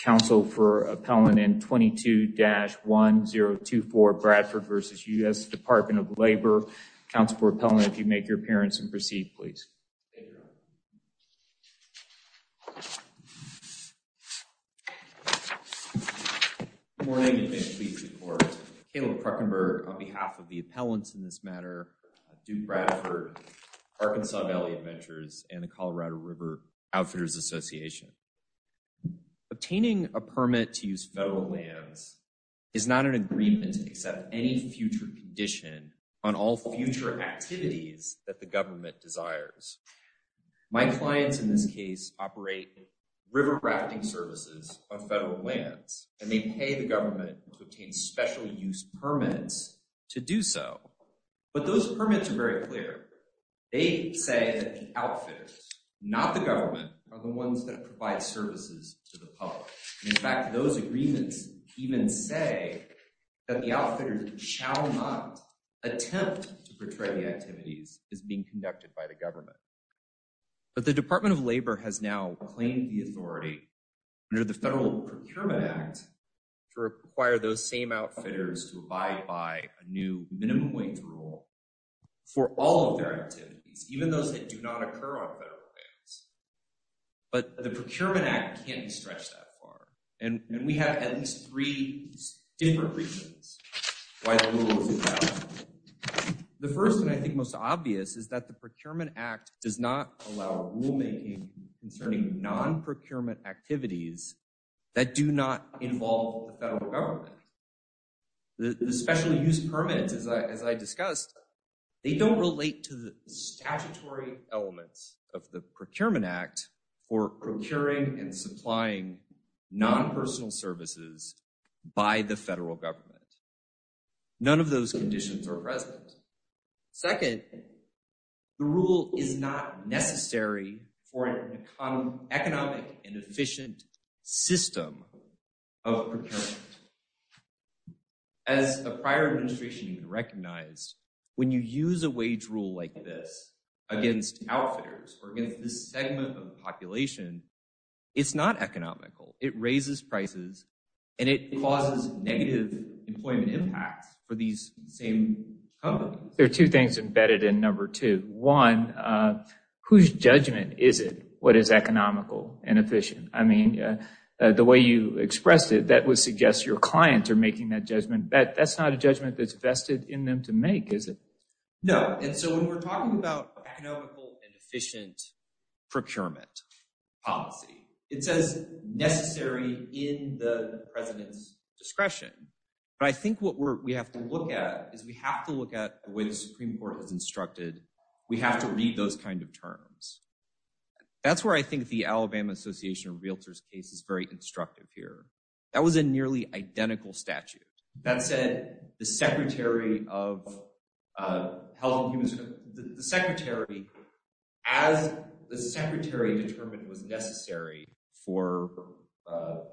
Council for Appellant and 22-1024 Bradford v. U.S. Department of Labor. Council for Appellant if you make your appearance and proceed please. Good morning and thank you for your support. Caleb Kruckenberg on behalf of the appellants in this matter, Duke Bradford, Arkansas Valley Adventures, and the Colorado River Outfitters Association. Obtaining a permit to use federal lands is not an agreement except any future condition on all future activities that the government desires. My clients in this case operate river rafting services on federal lands and they pay the government to obtain special use permits to do so. But those permits are very clear. They say that the outfitters, not the government, are the ones that provide services to the public. In fact, those agreements even say that the outfitters shall not attempt to portray the activities as being conducted by the government. But the Department of Labor has now claimed the authority under the Federal Procurement Act to require those same outfitters to abide by a new minimum wage rule for all of their activities, even those that do not occur on federal lands. But the Procurement Act can't be stretched that far. And we have at least three different reasons why the rule is invalid. The first and I think most obvious is that the Procurement Act does not allow rulemaking concerning non-procurement activities that do not involve the federal government. The special use permits, as I discussed, they don't relate to the statutory elements of the Procurement Act for procuring and supplying non-personal services by the federal government. None of those conditions are present. Second, the rule is not necessary for an economic and efficient system of procurement. As a prior administration recognized, when you use a wage rule like this against outfitters or against this segment of the population, it's not economical. It raises prices and it causes negative employment impacts for these same companies. There are two things embedded in number two. One, whose judgment is it? What is economical and efficient? I mean, the way you expressed it, that would suggest your clients are making that judgment. That's not a judgment that's vested in them to make, is it? No. And so when we're talking about economical and efficient procurement policy, it says necessary in the president's discretion. But I think what we have to look at is we have to look at the way the Supreme Court has instructed. We have to read those kinds of terms. That's where I think the Alabama Association of Realtors case is very instructive here. That was a nearly identical statute. That said, as the secretary determined was necessary for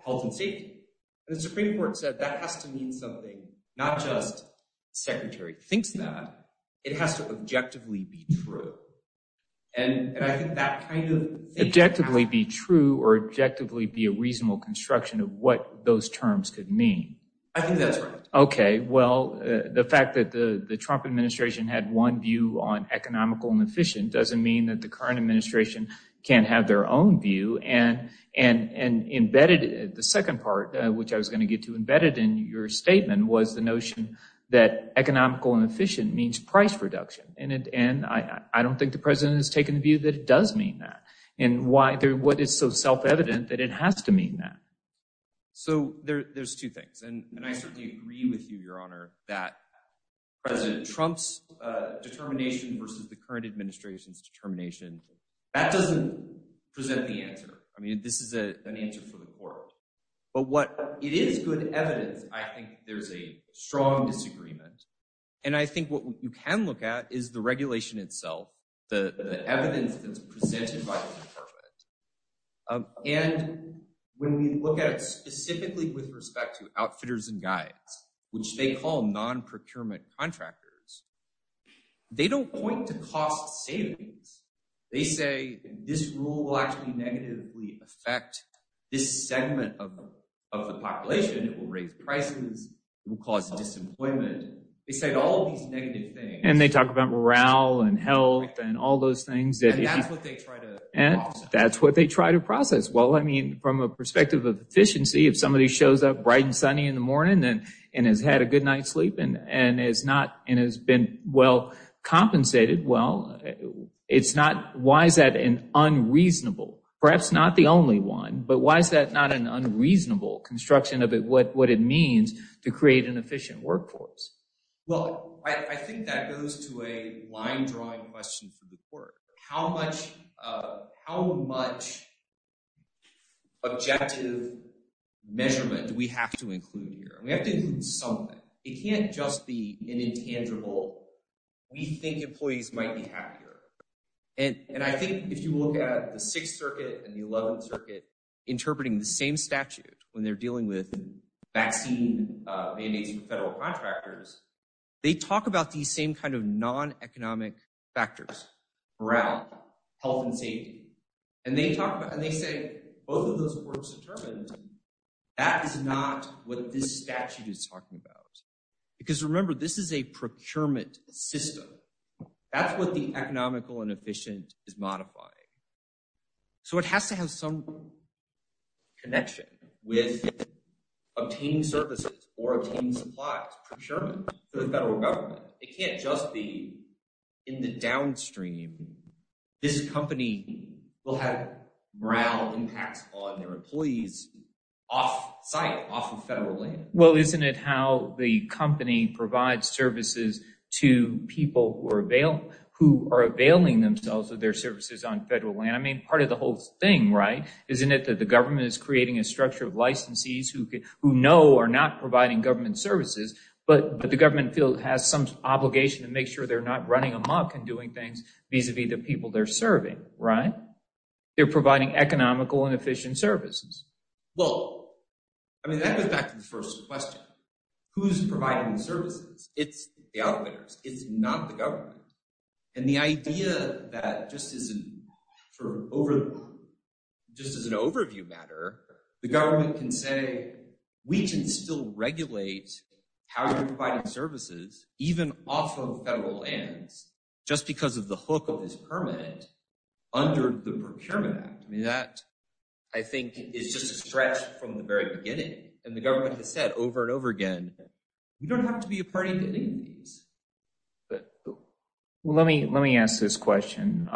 health and safety, the Supreme Court said that has to mean something, not just secretary thinks that, it has to objectively be true. And I think that kind of... Objectively be true or objectively be a reasonable construction of what those terms could mean. I think that's right. Okay. Well, the fact that the Trump administration had one view on economical and efficient doesn't mean that the current administration can't have their own view. And the second part, which I was going to get to embedded in your statement was the notion that economical and efficient means price reduction. And I don't think the president has taken the view that it does mean that. And what is so self-evident that it has to mean that? So there's two things. And I certainly agree with you, Your Honor, that President Trump's current administration's determination, that doesn't present the answer. I mean, this is an answer for the court, but it is good evidence. I think there's a strong disagreement. And I think what you can look at is the regulation itself, the evidence that's presented by the department. And when we look at it specifically with respect to outfitters and guides, which they call non-procurement contractors, they don't point to cost savings. They say this rule will actually negatively affect this segment of the population. It will raise prices, it will cause disemployment. They said all of these negative things. And they talk about morale and health and all those things. And that's what they try to process. That's what they try to process. Well, I mean, from a perspective of efficiency, if somebody shows up bright and sunny in the morning and has had a good night's sleep and has been well compensated, well, why is that unreasonable? Perhaps not the only one, but why is that not an unreasonable construction of what it means to create an efficient workforce? Well, I think that goes to a line drawing question for the court. How much objective measurement do we have to include here? We have to include something. It can't just be an intangible, we think employees might be happier. And I think if you look at the Sixth Circuit and the Eleventh Circuit interpreting the same contractors, they talk about these same kind of non-economic factors, morale, health and safety. And they talk about, and they say, both of those works determined, that is not what this statute is talking about. Because remember, this is a procurement system. That's what the economical and efficient is modifying. So it has to have some connection with obtaining services or obtaining supplies, procurement, to the federal government. It can't just be in the downstream. This company will have morale impacts on their employees off site, off of federal land. Well, isn't it how the company provides services to people who are availing themselves of their creating a structure of licensees who know are not providing government services, but the government field has some obligation to make sure they're not running amok and doing things vis-a-vis the people they're serving, right? They're providing economical and efficient services. Well, I mean, that goes back to the first question. Who's providing the services? It's the outliners. It's not the government. And the idea that just as an overview matter, the government can say, we can still regulate how you're providing services, even off of federal lands, just because of the hook of this permit under the Procurement Act. I mean, that, I think, is just a stretch from the very beginning. And the government has said over and over again, you don't have to be a party to any of these. Well, let me ask this question.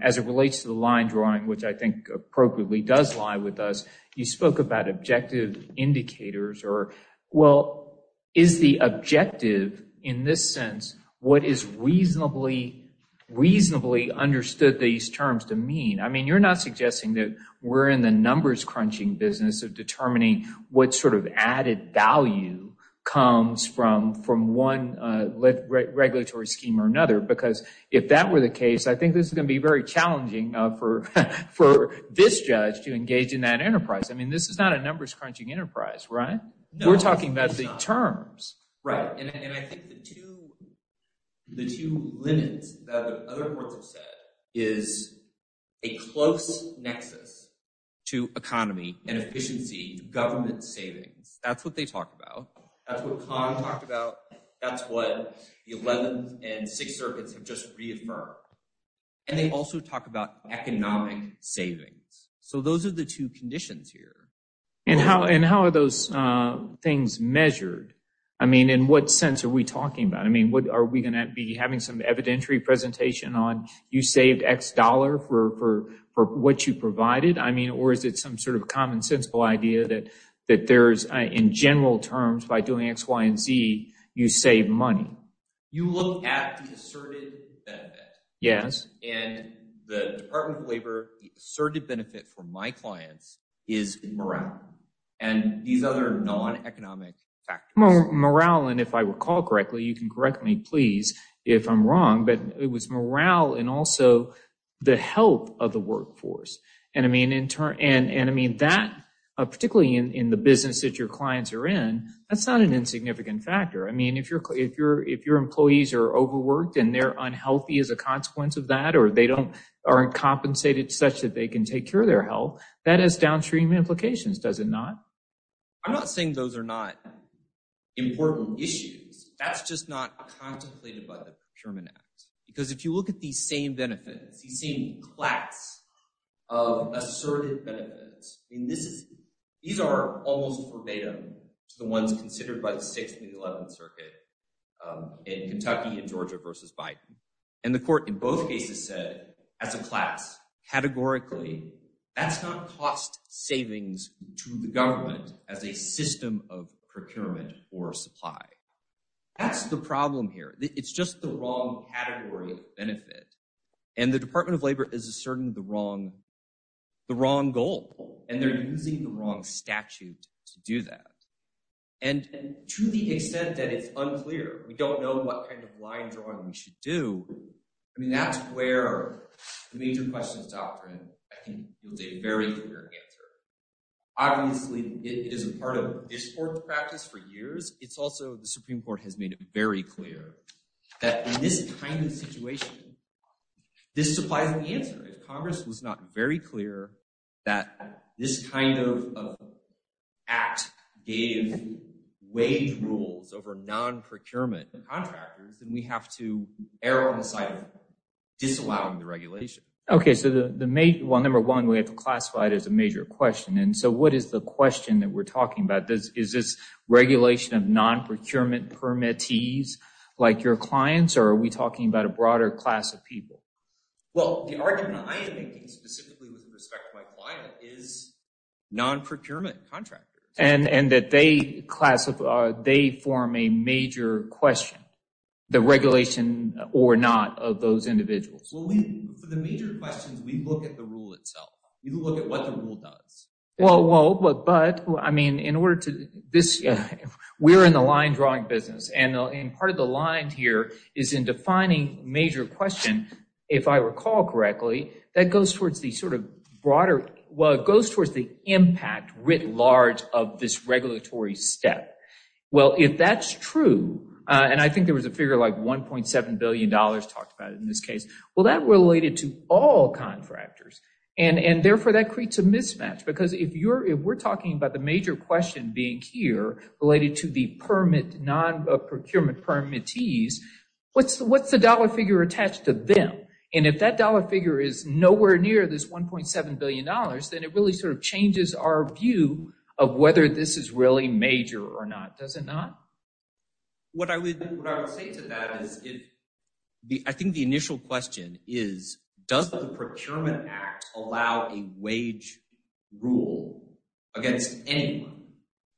As it relates to the line drawing, which I think appropriately does lie with us, you spoke about objective indicators or, well, is the objective, in this sense, what is reasonably, reasonably understood these terms to mean? I mean, you're not suggesting that we're in the numbers crunching business of determining what sort of added value comes from one regulatory scheme or another, because if that were the case, I think this is going to be very challenging for this judge to engage in that enterprise. I mean, this is not a numbers crunching enterprise, right? We're talking about the terms. Right. And I think the two limits that other courts have said is a close nexus to economy and efficiency, government savings. That's what they talk about. That's what Conn talked about. That's what the 11th and 6th circuits have just reaffirmed. And they also talk about economic savings. So those are the two conditions here. And how are those things measured? I mean, in what sense are we talking about? I mean, are we going to be having some evidentiary presentation on you saved X dollar for what you provided? I mean, or is it some sort of you save money? You look at the asserted benefit. Yes. And the Department of Labor asserted benefit for my clients is morale and these other non-economic factors. Morale. And if I recall correctly, you can correct me, please, if I'm wrong, but it was morale and also the help of the workforce. And I mean, in turn, and I mean that particularly in the business that your clients are in, that's not an significant factor. I mean, if you're, if you're, if your employees are overworked and they're unhealthy as a consequence of that, or they don't aren't compensated such that they can take care of their health that has downstream implications, does it not? I'm not saying those are not important issues. That's just not contemplated by the procurement act. Because if you look at these same benefits, he's seen class of asserted benefits. And this is, these are almost verbatim to the ones considered by the sixth and 11th circuit in Kentucky and Georgia versus Biden. And the court in both cases said as a class categorically, that's not cost savings to the government as a system of procurement or supply. That's the problem here. It's just the wrong category benefit. And the Department of Labor is a certain, the wrong, the wrong goal, and they're using the wrong statute to do that. And to the extent that it's unclear, we don't know what kind of line drawing we should do. I mean, that's where the major questions doctrine, I think you'll see a very clear answer. Obviously it is a part of this court practice for years. It's also the Supreme court has made very clear that in this kind of situation, this supplies the answer. If Congress was not very clear that this kind of act gave wage rules over non-procurement contractors, then we have to err on the side of disallowing the regulation. Okay. So the, the main one, number one, we have to classify it as a major question. And so what is the question that we're talking about? Is this regulation of non-procurement permittees like your clients, or are we talking about a broader class of people? Well, the argument I am making specifically with respect to my client is non-procurement contractors. And that they classify, they form a major question, the regulation or not of those individuals. For the major questions, we look at the rule itself. We look at what the rule does. Well, well, but I mean, in order to this, we're in the line drawing business and part of the line here is in defining major question. If I recall correctly, that goes towards the sort of broader, well, it goes towards the impact writ large of this regulatory step. Well, if that's true, and I think there was a figure like $1.7 billion talked about it in this case. Well, that related to all contractors and therefore that creates a mismatch. Because if we're talking about the major question being here related to the non-procurement permittees, what's the dollar figure attached to them? And if that dollar figure is nowhere near this $1.7 billion, then it really sort of changes our view of whether this is really major or not. Does it not? What I would say to that is, I think the initial question is, does the procurement act allow a wage rule against anyone?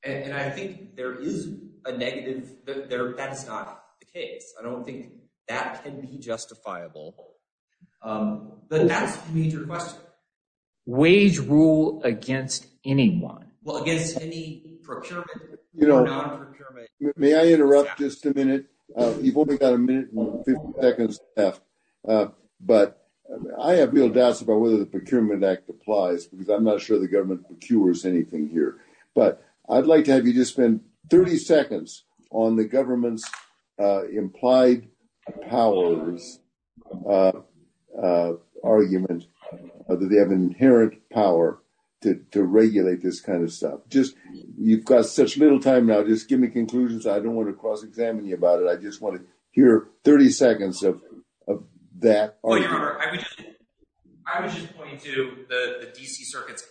And I think there is a negative there. That's not the case. I don't think that can be justifiable. But that's the major question. Wage rule against anyone? Well, procurement or non-procurement? May I interrupt just a minute? You've only got a minute and 50 seconds left. But I have real doubts about whether the Procurement Act applies because I'm not sure the government procures anything here. But I'd like to have you just spend 30 seconds on the government's implied powers argument that they have inherent power to regulate this kind of stuff. You've got such little time now. Just give me conclusions. I don't want to cross-examine you about it. I just want to hear 30 seconds of that argument. I was just pointing to the D.C. Circuit's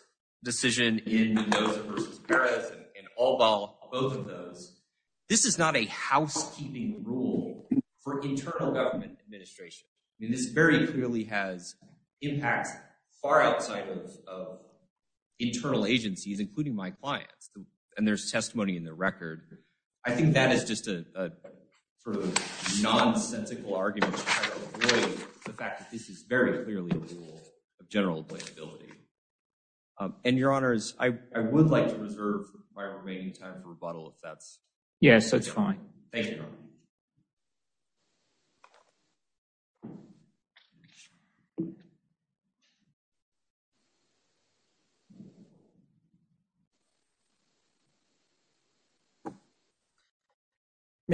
decision in Noza versus Perez and Allball, both of those. This is not a housekeeping rule for internal government administration. This very clearly has impacts far outside of internal agencies, including my clients. And there's testimony in the record. I think that is just a sort of nonsensical argument to try to avoid the fact that this is very clearly a rule of general avoidability. And, Your Honors, I would like to reserve my remaining time for rebuttal. Yes, that's fine. May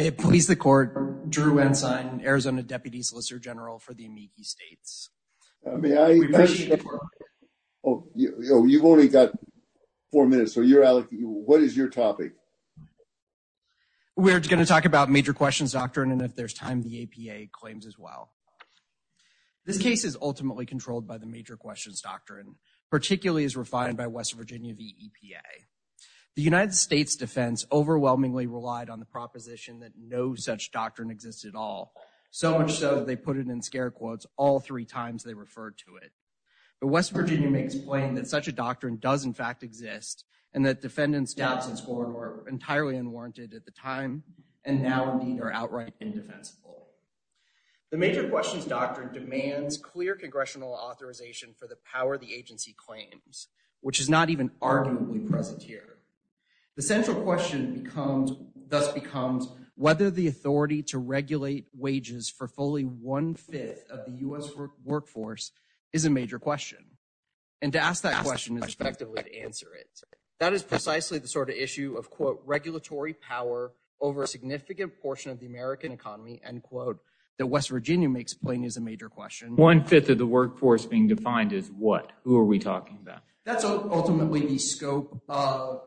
it please the Court, Drew Ensign, Arizona Deputy Solicitor General for the Amici States. You've only got four minutes. What is your topic? We're going to talk about major questions doctrine, and if there's time, the APA claims as well. This case is ultimately controlled by the major questions doctrine, particularly as refined by West Virginia v. EPA. The United States defense overwhelmingly relied on the proposition that no such doctrine exists at all, so much so that they put it in scare quotes all three times they referred to it. But West Virginia makes plain that such a doctrine does, in fact, exist, and that defendants' doubts in scoring were entirely unwarranted at the time, and now, indeed, are outright indefensible. The major questions doctrine demands clear congressional authorization for the power the agency claims, which is not even arguably present here. The central question thus becomes whether the authority to regulate wages for fully one-fifth of the U.S. workforce is a major question, and to ask that question is effectively to answer it. That is precisely the sort of issue of, quote, regulatory power over a significant portion of the American economy, end quote, that West Virginia makes plain is a major question. One-fifth of the workforce being defined is what? Who are we talking about? That's ultimately the scope.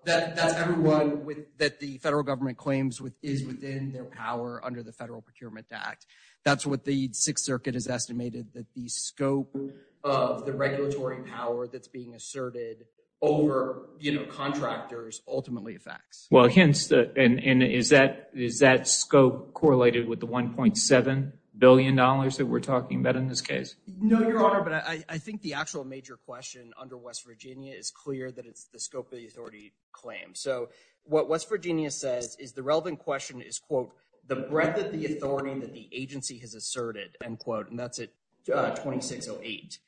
That's everyone that the federal government claims is within their power under the Federal Procurement Act. That's what the Sixth Circuit has estimated, that the scope of the regulatory power that's being asserted over, you know, contractors ultimately affects. Well, hence, and is that scope correlated with the $1.7 billion that we're talking about in this case? No, Your Honor, but I think the actual major question under West Virginia is clear that it's the scope of the authority claim. So what West Virginia says is the relevant question is, quote, the breadth of the authority that the agency has asserted, end quote, and that's at 2608.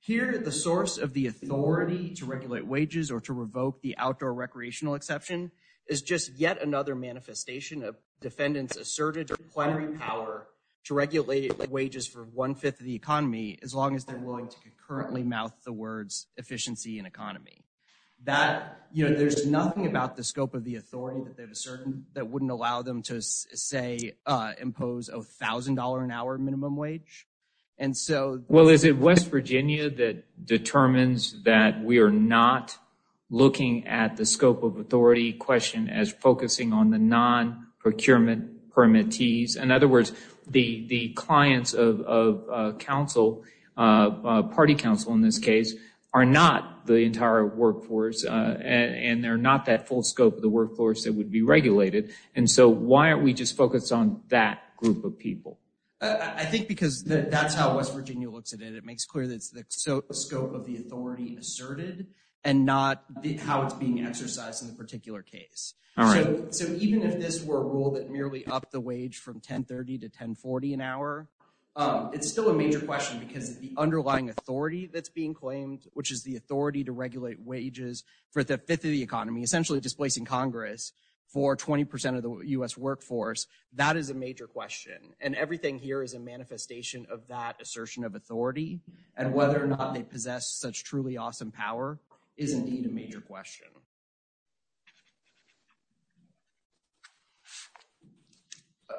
Here, the source of the authority to regulate wages or to revoke the outdoor recreational exception is just yet another manifestation of defendants' asserted plenary power to regulate wages for one-fifth of the economy, as long as they're willing to concurrently mouth the words efficiency and economy. That, you know, there's nothing about the scope of the authority that they've asserted that wouldn't allow them to, say, impose $1,000 an hour minimum wage. And so... Well, is it West Virginia that determines that we are not looking at the scope of authority question as focusing on the non-procurement permittees? In other words, the clients of counsel, party counsel in this case, are not the entire workforce and they're not that full scope of the workforce that would be regulated. And so why aren't we just focused on that group of people? I think because that's how West Virginia looks at it. It makes clear that it's the scope of the authority asserted and not how it's being exercised in the particular case. All right. So even if this were a rule that merely upped the wage from $10.30 to $10.40 an hour, it's still a major question because the underlying authority that's being claimed, which is the authority to regulate wages for the fifth of the economy, essentially displacing Congress for 20% of the U.S. workforce, that is a major question. And everything here is a manifestation of that assertion of authority. And whether or not they possess such truly awesome power is indeed a major question.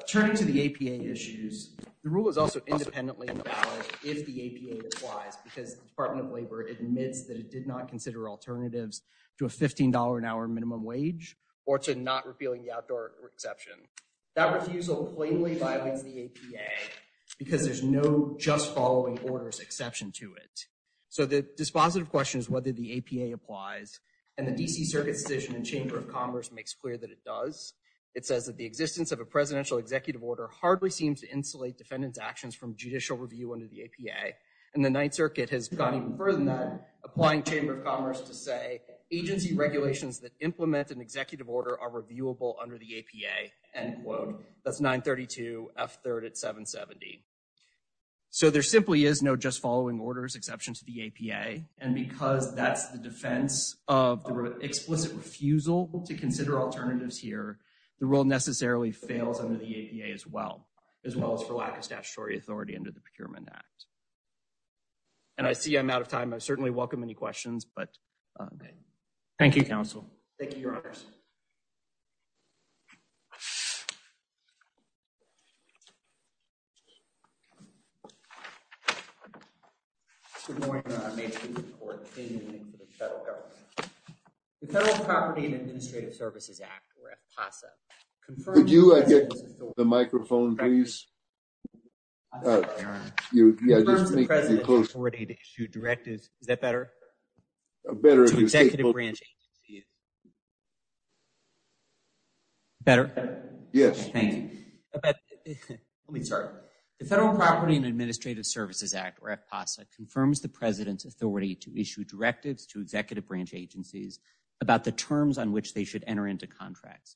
Turning to the APA issues, the rule is also independently invalid if the APA applies because the Department of Labor admits that it did not consider alternatives to a $15 an hour minimum wage or to not repealing the outdoor exception. That refusal plainly violates the APA because there's no just following orders exception to it. So the dispositive question is whether the APA applies. And the D.C. Circuit's decision in Chamber of Commerce makes clear that it does. It says that the existence of a presidential executive order hardly seems to insulate defendant's actions from judicial review under the APA. And the Ninth Circuit has gone even to Chamber of Commerce to say agency regulations that implement an executive order are reviewable under the APA, end quote. That's 932 F3rd at 770. So there simply is no just following orders exception to the APA. And because that's the defense of the explicit refusal to consider alternatives here, the rule necessarily fails under the APA as well, as well as for lack of statutory authority under the Procurement Act. And I see I'm out of time. I certainly welcome any questions, but thank you, Counsel. Thank you, Your Honors. Good morning, Your Honor. I make this report in the name of the federal government. The Federal Property and Administrative Services Act, or APOSSA, confirms the president's authority to issue directives. Is that better? Better? Yes. Thank you. Let me start. The Federal Property and Administrative Services Act, or APOSSA, confirms the president's authority to issue directives to executive branch agencies about the terms on which they should enter into contracts.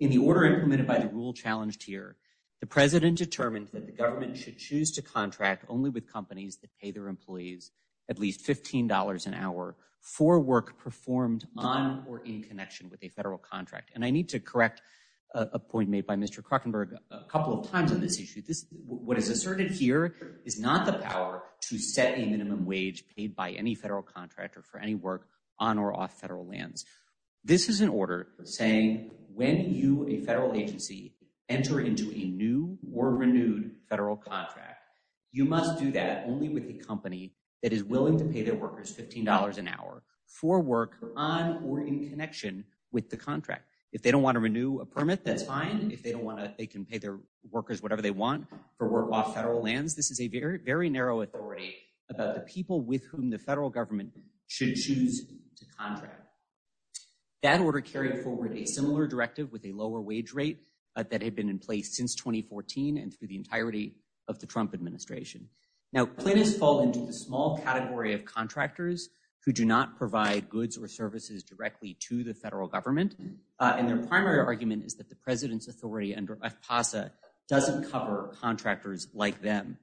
In the order implemented by the rule challenged here, the president determined that the government should choose to contract only with companies that pay their employees at least $15 an hour for work performed on or in connection with a federal contract. And I need to correct a point made by Mr. Krockenberg a couple of times on this issue. What is asserted here is not the power to set a minimum wage paid by any federal contractor for any work on or off federal lands. This is an order saying when you, a federal only with a company that is willing to pay their workers $15 an hour for work on or in connection with the contract. If they don't want to renew a permit, that's fine. If they don't want to, they can pay their workers whatever they want for work off federal lands. This is a very, very narrow authority about the people with whom the federal government should choose to contract. That order carried forward a similar directive with a lower wage rate that had been in place since 2014 and through the entirety of the Trump administration. Now Clint has fallen into the small category of contractors who do not provide goods or services directly to the federal government. And their primary argument is that the president's authority under FPASA doesn't cover contractors like them,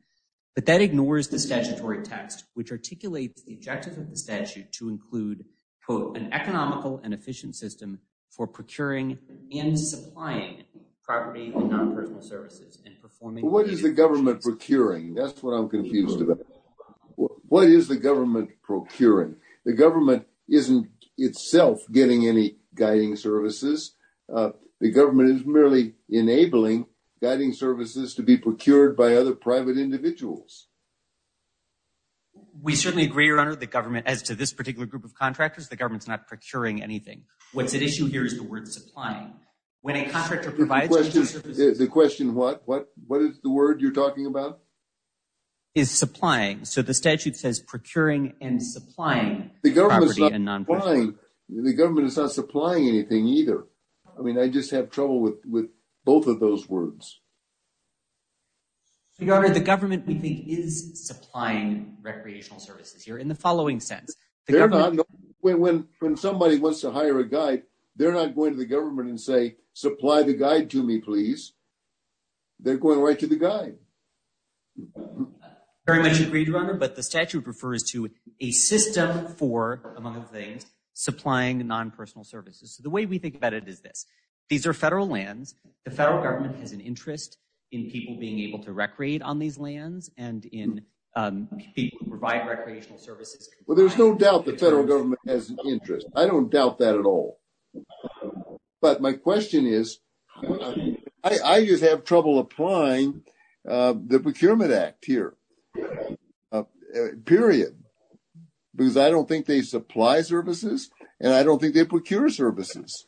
but that ignores the statutory text, which articulates the objective of the statute to include quote, an economical and efficient system for procuring and supplying property and non-personal services. What is the government procuring? That's what I'm confused about. What is the government procuring? The government isn't itself getting any guiding services. The government is merely enabling guiding services to be procured by other private individuals. We certainly agree, your honor, the government as to this particular group of contractors. The question, what is the word you're talking about? Is supplying. So the statute says procuring and supplying. The government is not supplying anything either. I mean, I just have trouble with both of those words. So your honor, the government we think is supplying recreational services here in the following sense. When somebody wants to hire a guide, they're not going to the government and say, supply the guide to me, please. They're going right to the guide. Very much agreed, your honor, but the statute refers to a system for, among other things, supplying non-personal services. So the way we think about it is this. These are federal lands. The federal government has an interest in people being able to recreate on these lands and in people who provide recreational services. Well, there's no doubt the federal government has interest. I don't doubt that at all. But my question is, I just have trouble applying the Procurement Act here, period, because I don't think they supply services and I don't think they procure services.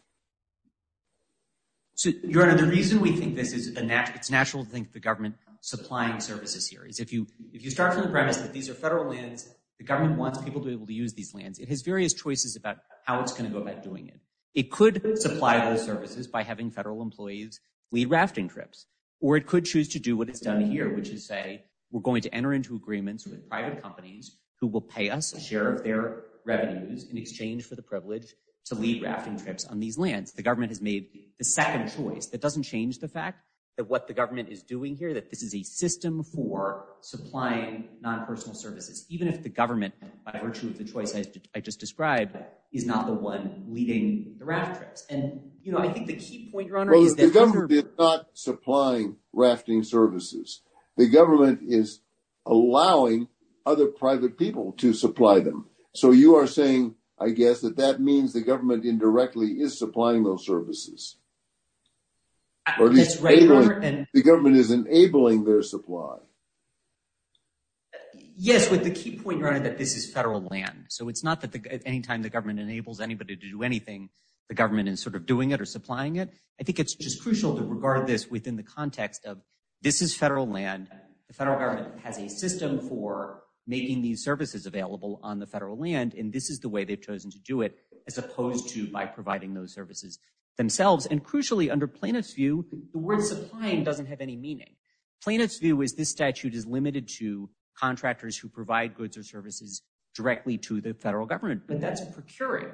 So your honor, the reason we think this is a natural, it's natural to think the government supplying services here is if you start from the premise that these are federal lands, the government wants people to be able to use these lands. It has various choices about how it's going to go about doing it. It could supply those services by having federal employees lead rafting trips, or it could choose to do what it's done here, which is say, we're going to enter into agreements with private companies who will pay us a share of their revenues in exchange for the privilege to lead rafting trips on these lands. The government has made the second choice. That doesn't change the fact that what the government is doing here, that this is a system for supplying non-personal services, even if the government, by virtue of the choice I just described, is not the one leading the raft trips. And I think the key point, your honor, is that- Well, the government is not supplying rafting services. The government is allowing other private people to supply them. So you are saying, I guess, that that means the government indirectly is supplying those services. That's right, your honor, and- The government is enabling their supply. Yes, but the key point, your honor, that this is federal land. So it's not that at any time the government enables anybody to do anything, the government is sort of doing it or supplying it. I think it's just crucial to regard this within the context of this is federal land, the federal government has a system for making these services available on the federal land, and this is the way they've chosen to do it, as opposed to by providing those services themselves. And crucially, under plaintiff's view, the word supplying doesn't have any meaning. Plaintiff's view is this statute is limited to contractors who provide goods or services directly to the federal government, but that's procuring.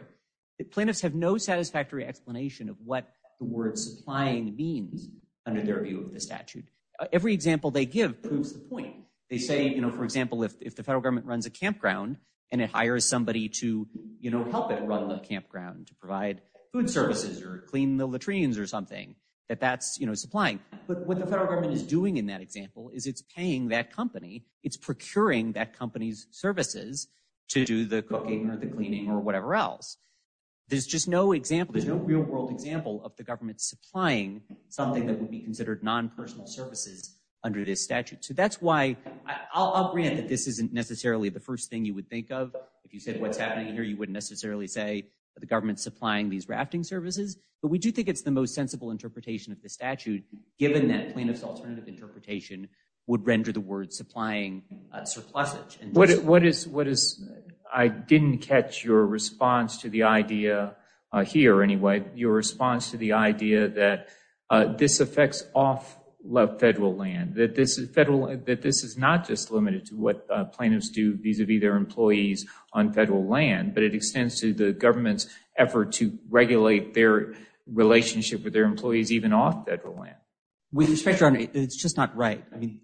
Plaintiffs have no satisfactory explanation of what the word supplying means under their view of the statute. Every example they give proves the point. They say, for example, if the federal government runs a campground, and it hires somebody to help it run the campground to provide food services or clean the latrines or something, that that's supplying. But what the federal government is doing in that example is it's paying that company, it's procuring that company's services to do the cooking or the cleaning or whatever else. There's just no example, there's no real world example of the government supplying something that would be considered non personal services under this statute. So that's why I'll grant that this isn't necessarily the first thing you would think of. If you said what's happening here, you wouldn't necessarily say the government supplying these rafting services. But we do think it's the most sensible interpretation of the statute, given that plaintiff's alternative interpretation would render the word supplying surplusage. I didn't catch your response to the idea, here anyway, your response to the idea that this affects off federal land, that this is not just limited to what plaintiffs do vis-a-vis their employees on federal land, but it extends to the government's effort to regulate their relationship with their employees even off federal land. With respect, your honor, it's just not right. I mean,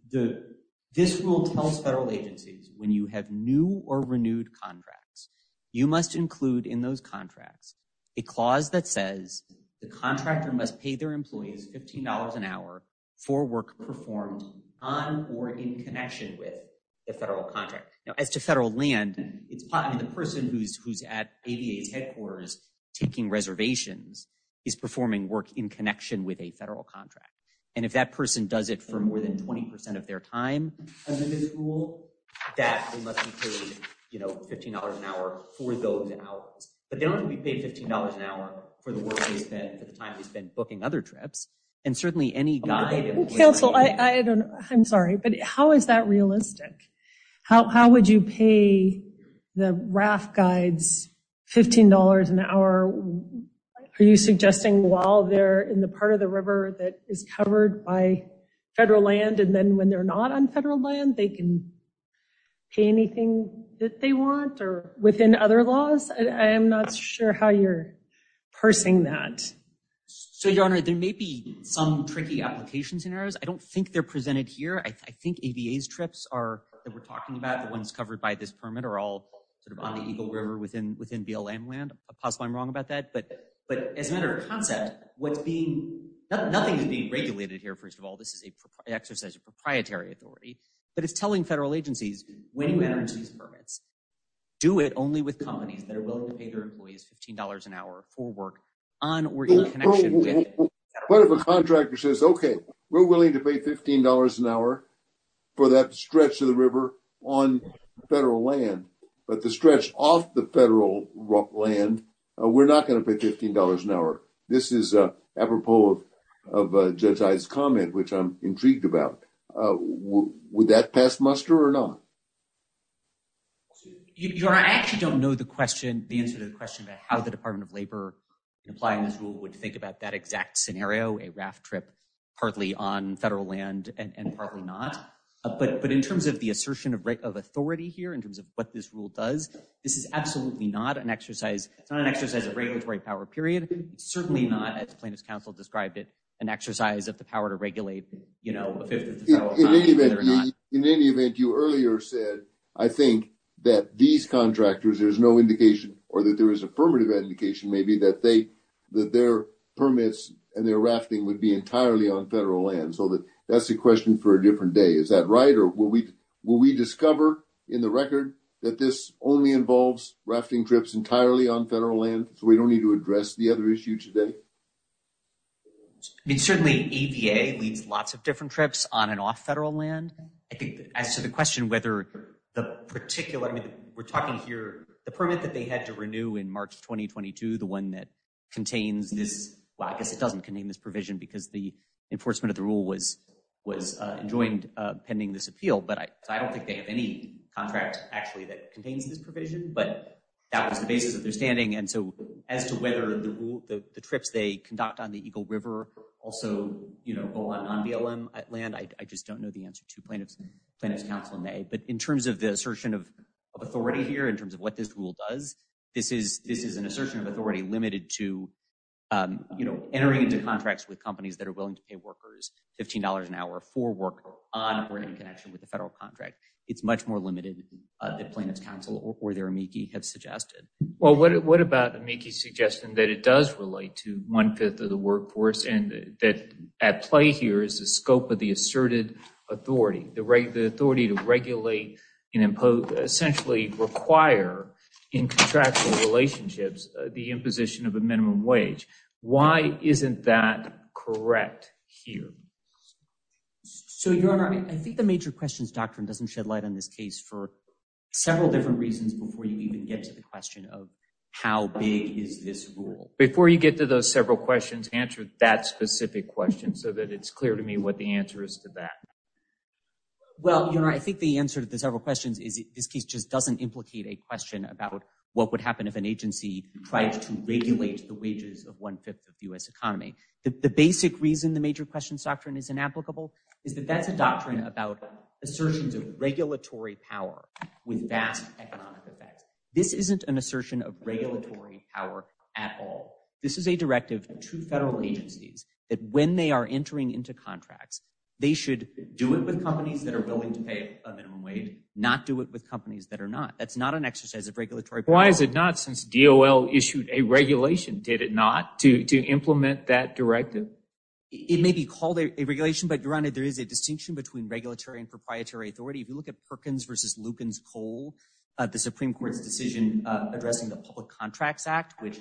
this rule tells federal agencies when you have new or renewed contracts, you must include in those contracts, a clause that says the contractor must pay their employees $15 an hour for work performed on or in connection with the federal contract. Now as to federal land, it's probably the person who's at ADA's headquarters taking reservations is performing work in connection with a federal contract. And if that person does it for more than 20% of their time under this rule, that they must be paid $15 an hour for those hours. But they don't have to be paid $15 an hour for the work they spend, for the time they spend booking other trips. And certainly any guide... Counsel, I'm sorry, but how is that realistic? How would you pay the RAF guides $15 an hour? Are you suggesting while they're in the part of the river that is covered by federal land, and then when they're not on federal land, they can pay anything that they want or within other laws? I am not sure how you're parsing that. So your honor, there may be some tricky application scenarios. I don't think they're presented here. I think ADA's trips are, that we're talking about, the ones covered by this federal land. Possibly I'm wrong about that. But as a matter of concept, nothing is being regulated here. First of all, this is an exercise of proprietary authority, but it's telling federal agencies when you enter into these permits, do it only with companies that are willing to pay their employees $15 an hour for work on or in connection with federal land. What if a contractor says, okay, we're willing to pay $15 an hour for that stretch of the river on federal land, but the stretch off the federal land, we're not going to pay $15 an hour. This is apropos of Judge Iye's comment, which I'm intrigued about. Would that pass muster or not? Your honor, I actually don't know the question, the answer to the question about how the Department of Labor in applying this rule would think about that exact scenario, a RAF trip partly on federal land and partly not. But in terms of the assertion of authority here, in terms of what this rule does, this is absolutely not an exercise. It's not an exercise of regulatory power, period. Certainly not, as plaintiff's counsel described it, an exercise of the power to regulate a fifth of the federal line, whether or not- In any event, you earlier said, I think that these contractors, there's no indication or that there is affirmative indication maybe that their permits and their That's a question for a different day. Is that right? Or will we discover in the record that this only involves rafting trips entirely on federal land, so we don't need to address the other issue today? I mean, certainly AVA leads lots of different trips on and off federal land. I think as to the question whether the particular, I mean, we're talking here, the permit that they had to renew in March 2022, the one that contains this, well, I guess it doesn't contain this was enjoined pending this appeal, but I don't think they have any contract actually that contains this provision, but that was the basis of their standing. And so as to whether the rule, the trips they conduct on the Eagle River also go on non-BLM land, I just don't know the answer to plaintiff's counsel may, but in terms of the assertion of authority here, in terms of what this rule does, this is an assertion of authority limited to entering into contracts with companies that are willing to pay workers $15 an hour for work on or in connection with the federal contract. It's much more limited than plaintiff's counsel or their amici have suggested. Well, what about amici suggesting that it does relate to one-fifth of the workforce and that at play here is the scope of the asserted authority, the right, the authority to regulate and impose, essentially require in contractual relationships, the imposition of a minimum wage. Why isn't that correct here? So your honor, I think the major questions doctrine doesn't shed light on this case for several different reasons before you even get to the question of how big is this rule? Before you get to those several questions, answer that specific question so that it's clear to me what the answer is to that. Well, you know, I think the answer to the several questions is this case just doesn't implicate a question about what would happen if an agency tried to regulate the wages of one-fifth of the U.S. economy. The basic reason the major questions doctrine is inapplicable is that that's a doctrine about assertions of regulatory power with vast economic effects. This isn't an assertion of regulatory power at all. This is a directive to federal agencies that when they are entering into contracts, they should do it with companies that are willing to pay a minimum wage, not do it with companies that are not. That's not an exercise of regulatory power. Why is it not since DOL issued a regulation, did it not, to implement that directive? It may be called a regulation, but your honor, there is a distinction between regulatory and proprietary authority. If you look at Perkins versus Lukens Coal, the Supreme Court's decision addressing the Public Contracts Act, which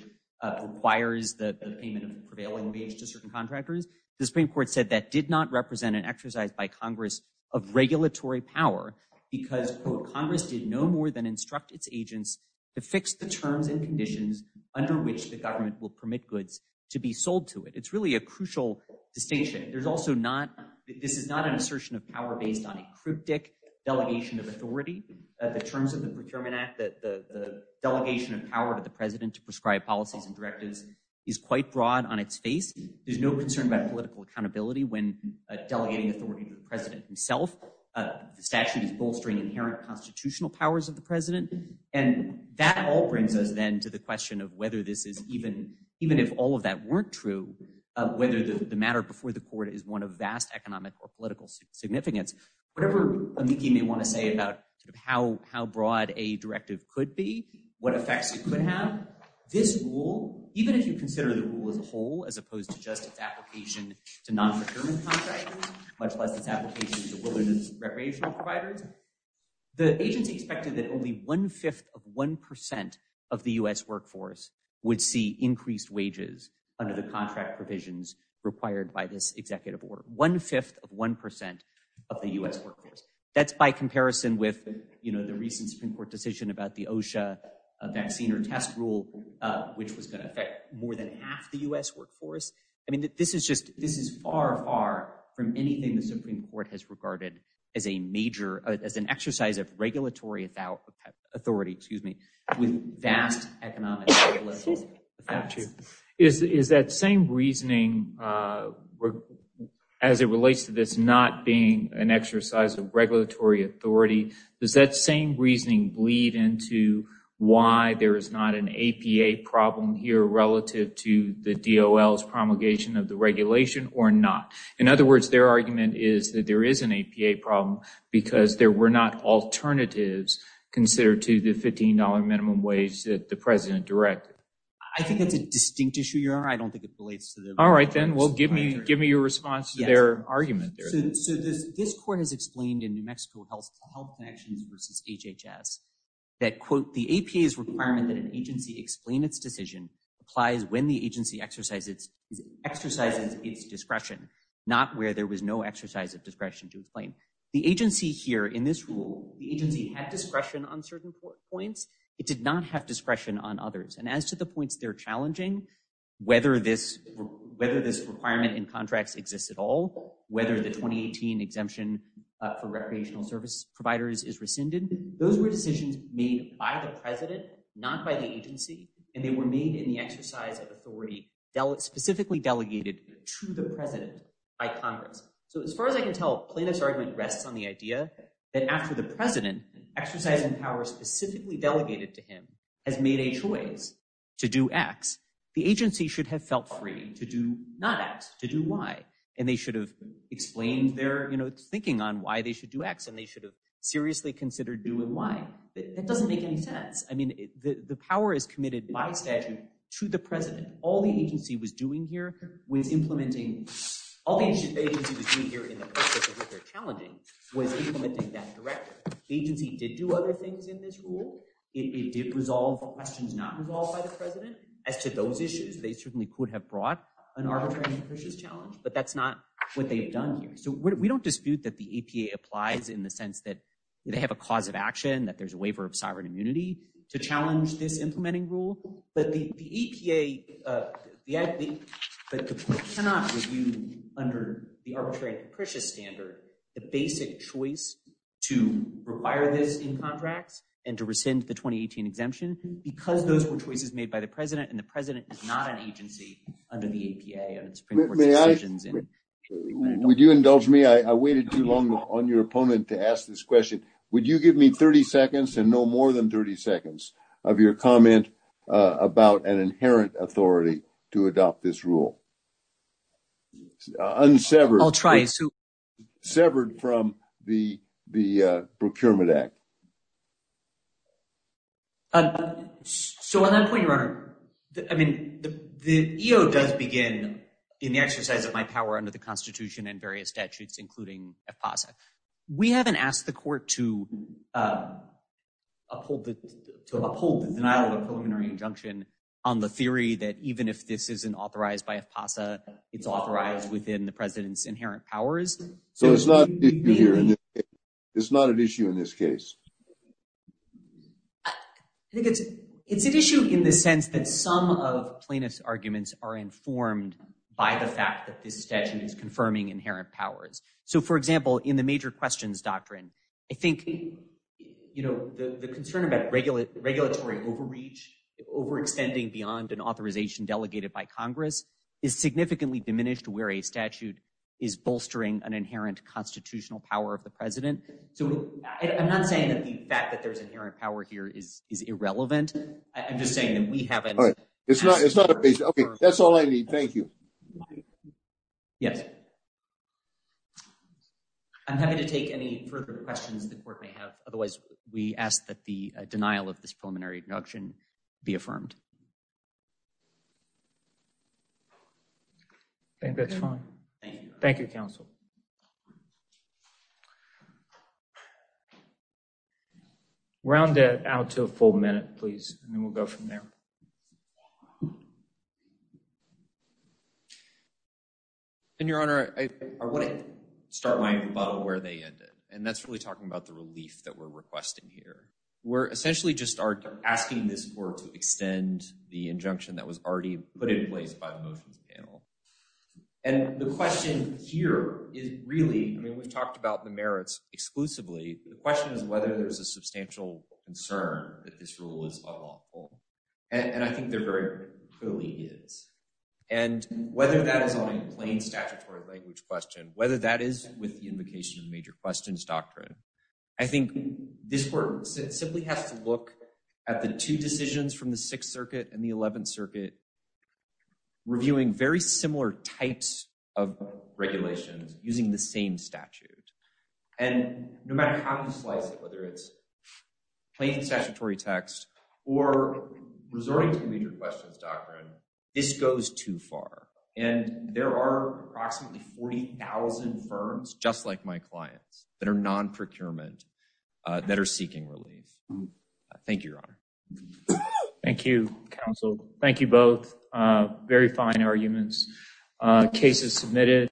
requires the payment of prevailing wage to certain contractors, the Supreme Court said that did not more than instruct its agents to fix the terms and conditions under which the government will permit goods to be sold to it. It's really a crucial distinction. There's also not, this is not an assertion of power based on a cryptic delegation of authority. The terms of the Procurement Act, the delegation of power to the president to prescribe policies and directives is quite broad on its face. There's no concern about political accountability when delegating authority to the president himself. The statute is bolstering inherent constitutional powers of the president. And that all brings us then to the question of whether this is even, even if all of that weren't true, whether the matter before the court is one of vast economic or political significance. Whatever Amiki may want to say about how broad a directive could be, what effects it could have, this rule, even if you consider the rule as a whole, as opposed to just its application to non-procurement contractors, much less its application to wilderness recreational providers. The agency expected that only one-fifth of one percent of the U.S. workforce would see increased wages under the contract provisions required by this executive order. One-fifth of one percent of the U.S. workforce. That's by comparison with, you know, the recent Supreme Court decision about the OSHA vaccine or test rule, which was going to affect more than half the U.S. workforce. I mean, this is just, this is far, far from anything the Supreme Court has regarded as a major, as an exercise of regulatory authority, excuse me, with vast economic. Is that same reasoning, as it relates to this not being an exercise of regulatory authority, does that same reasoning bleed into why there is not an APA problem here relative to the DOL's regulation or not? In other words, their argument is that there is an APA problem because there were not alternatives considered to the $15 minimum wage that the President directed. I think that's a distinct issue, Your Honor. I don't think it relates to the… All right, then. Well, give me, give me your response to their argument there. So this, this court has explained in New Mexico Health Connections versus HHS that quote, the APA's requirement that an agency explain its decision applies when the agency exercises its discretion, not where there was no exercise of discretion to explain. The agency here in this rule, the agency had discretion on certain points. It did not have discretion on others. And as to the points they're challenging, whether this, whether this requirement in contracts exists at all, whether the 2018 exemption for recreational service providers is rescinded, those were decisions made by the President, not by the agency. And they were made in the exercise of authority, specifically delegated to the President by Congress. So as far as I can tell, Plaintiff's argument rests on the idea that after the President, exercising power specifically delegated to him, has made a choice to do X, the agency should have felt free to do not X, to do Y. And they should have explained their, you know, thinking on why they should do X and they should have seriously considered doing Y. That doesn't make any sense. I mean, the power is committed by statute to the President. All the agency was doing here was implementing, all the agency was doing here in the process of what they're challenging was implementing that directly. The agency did do other things in this rule. It did resolve questions not resolved by the President. As to those issues, they certainly could have brought an arbitrary and capricious challenge, but that's not what they've done here. So we don't dispute that the APA applies in the sense that they have a cause of action, that there's a waiver of sovereign immunity to challenge this implementing rule. But the APA, they cannot review under the arbitrary and capricious standard, the basic choice to require this in contracts and to rescind the 2018 exemption because those were choices made by the President and the President is not an agency under the APA and the Supreme Court's decisions. Would you indulge me? I waited too long on your moment to ask this question. Would you give me 30 seconds and no more than 30 seconds of your comment about an inherent authority to adopt this rule? Unsevered from the Procurement Act. So on that point, Your Honor, I mean, the EO does begin in the exercise of my power under the Constitution and various statutes, including AFPASA. We haven't asked the court to uphold the denial of a preliminary injunction on the theory that even if this isn't authorized by AFPASA, it's authorized within the President's inherent powers. So it's not an issue here. It's not an issue in this case. I think it's an issue in the sense that some of plaintiff's arguments are confirming inherent powers. So, for example, in the major questions doctrine, I think, you know, the concern about regulatory overreach overextending beyond an authorization delegated by Congress is significantly diminished where a statute is bolstering an inherent constitutional power of the President. So I'm not saying that the fact that there's inherent power here is irrelevant. I'm just saying that we haven't. It's not. It's not. That's all I need. Thank you. Yes. I'm happy to take any further questions the court may have. Otherwise, we ask that the denial of this preliminary injunction be affirmed. I think that's fine. Thank you. Thank you, counsel. Round it out to a full minute, please, and then we'll go from there. And, Your Honor, I want to start my rebuttal where they ended, and that's really talking about the relief that we're requesting here. We're essentially just asking this court to extend the injunction that was already put in place by the motions panel. And the question here is really, I mean, we've talked about the merits exclusively. The question is whether there's a substantial concern that this rule is unlawful. And I think there very clearly is. And whether that is on a plain statutory language question, whether that is with the invocation of major questions doctrine, I think this court simply has to look at the two decisions from the Sixth Circuit and the Eleventh Circuit reviewing very similar types of regulations using the same statute. And no matter how you claim statutory text or resorting to major questions doctrine, this goes too far. And there are approximately 40,000 firms just like my clients that are non-procurement that are seeking relief. Thank you, Your Honor. Thank you, counsel. Thank you both. Very fine arguments. Case is submitted.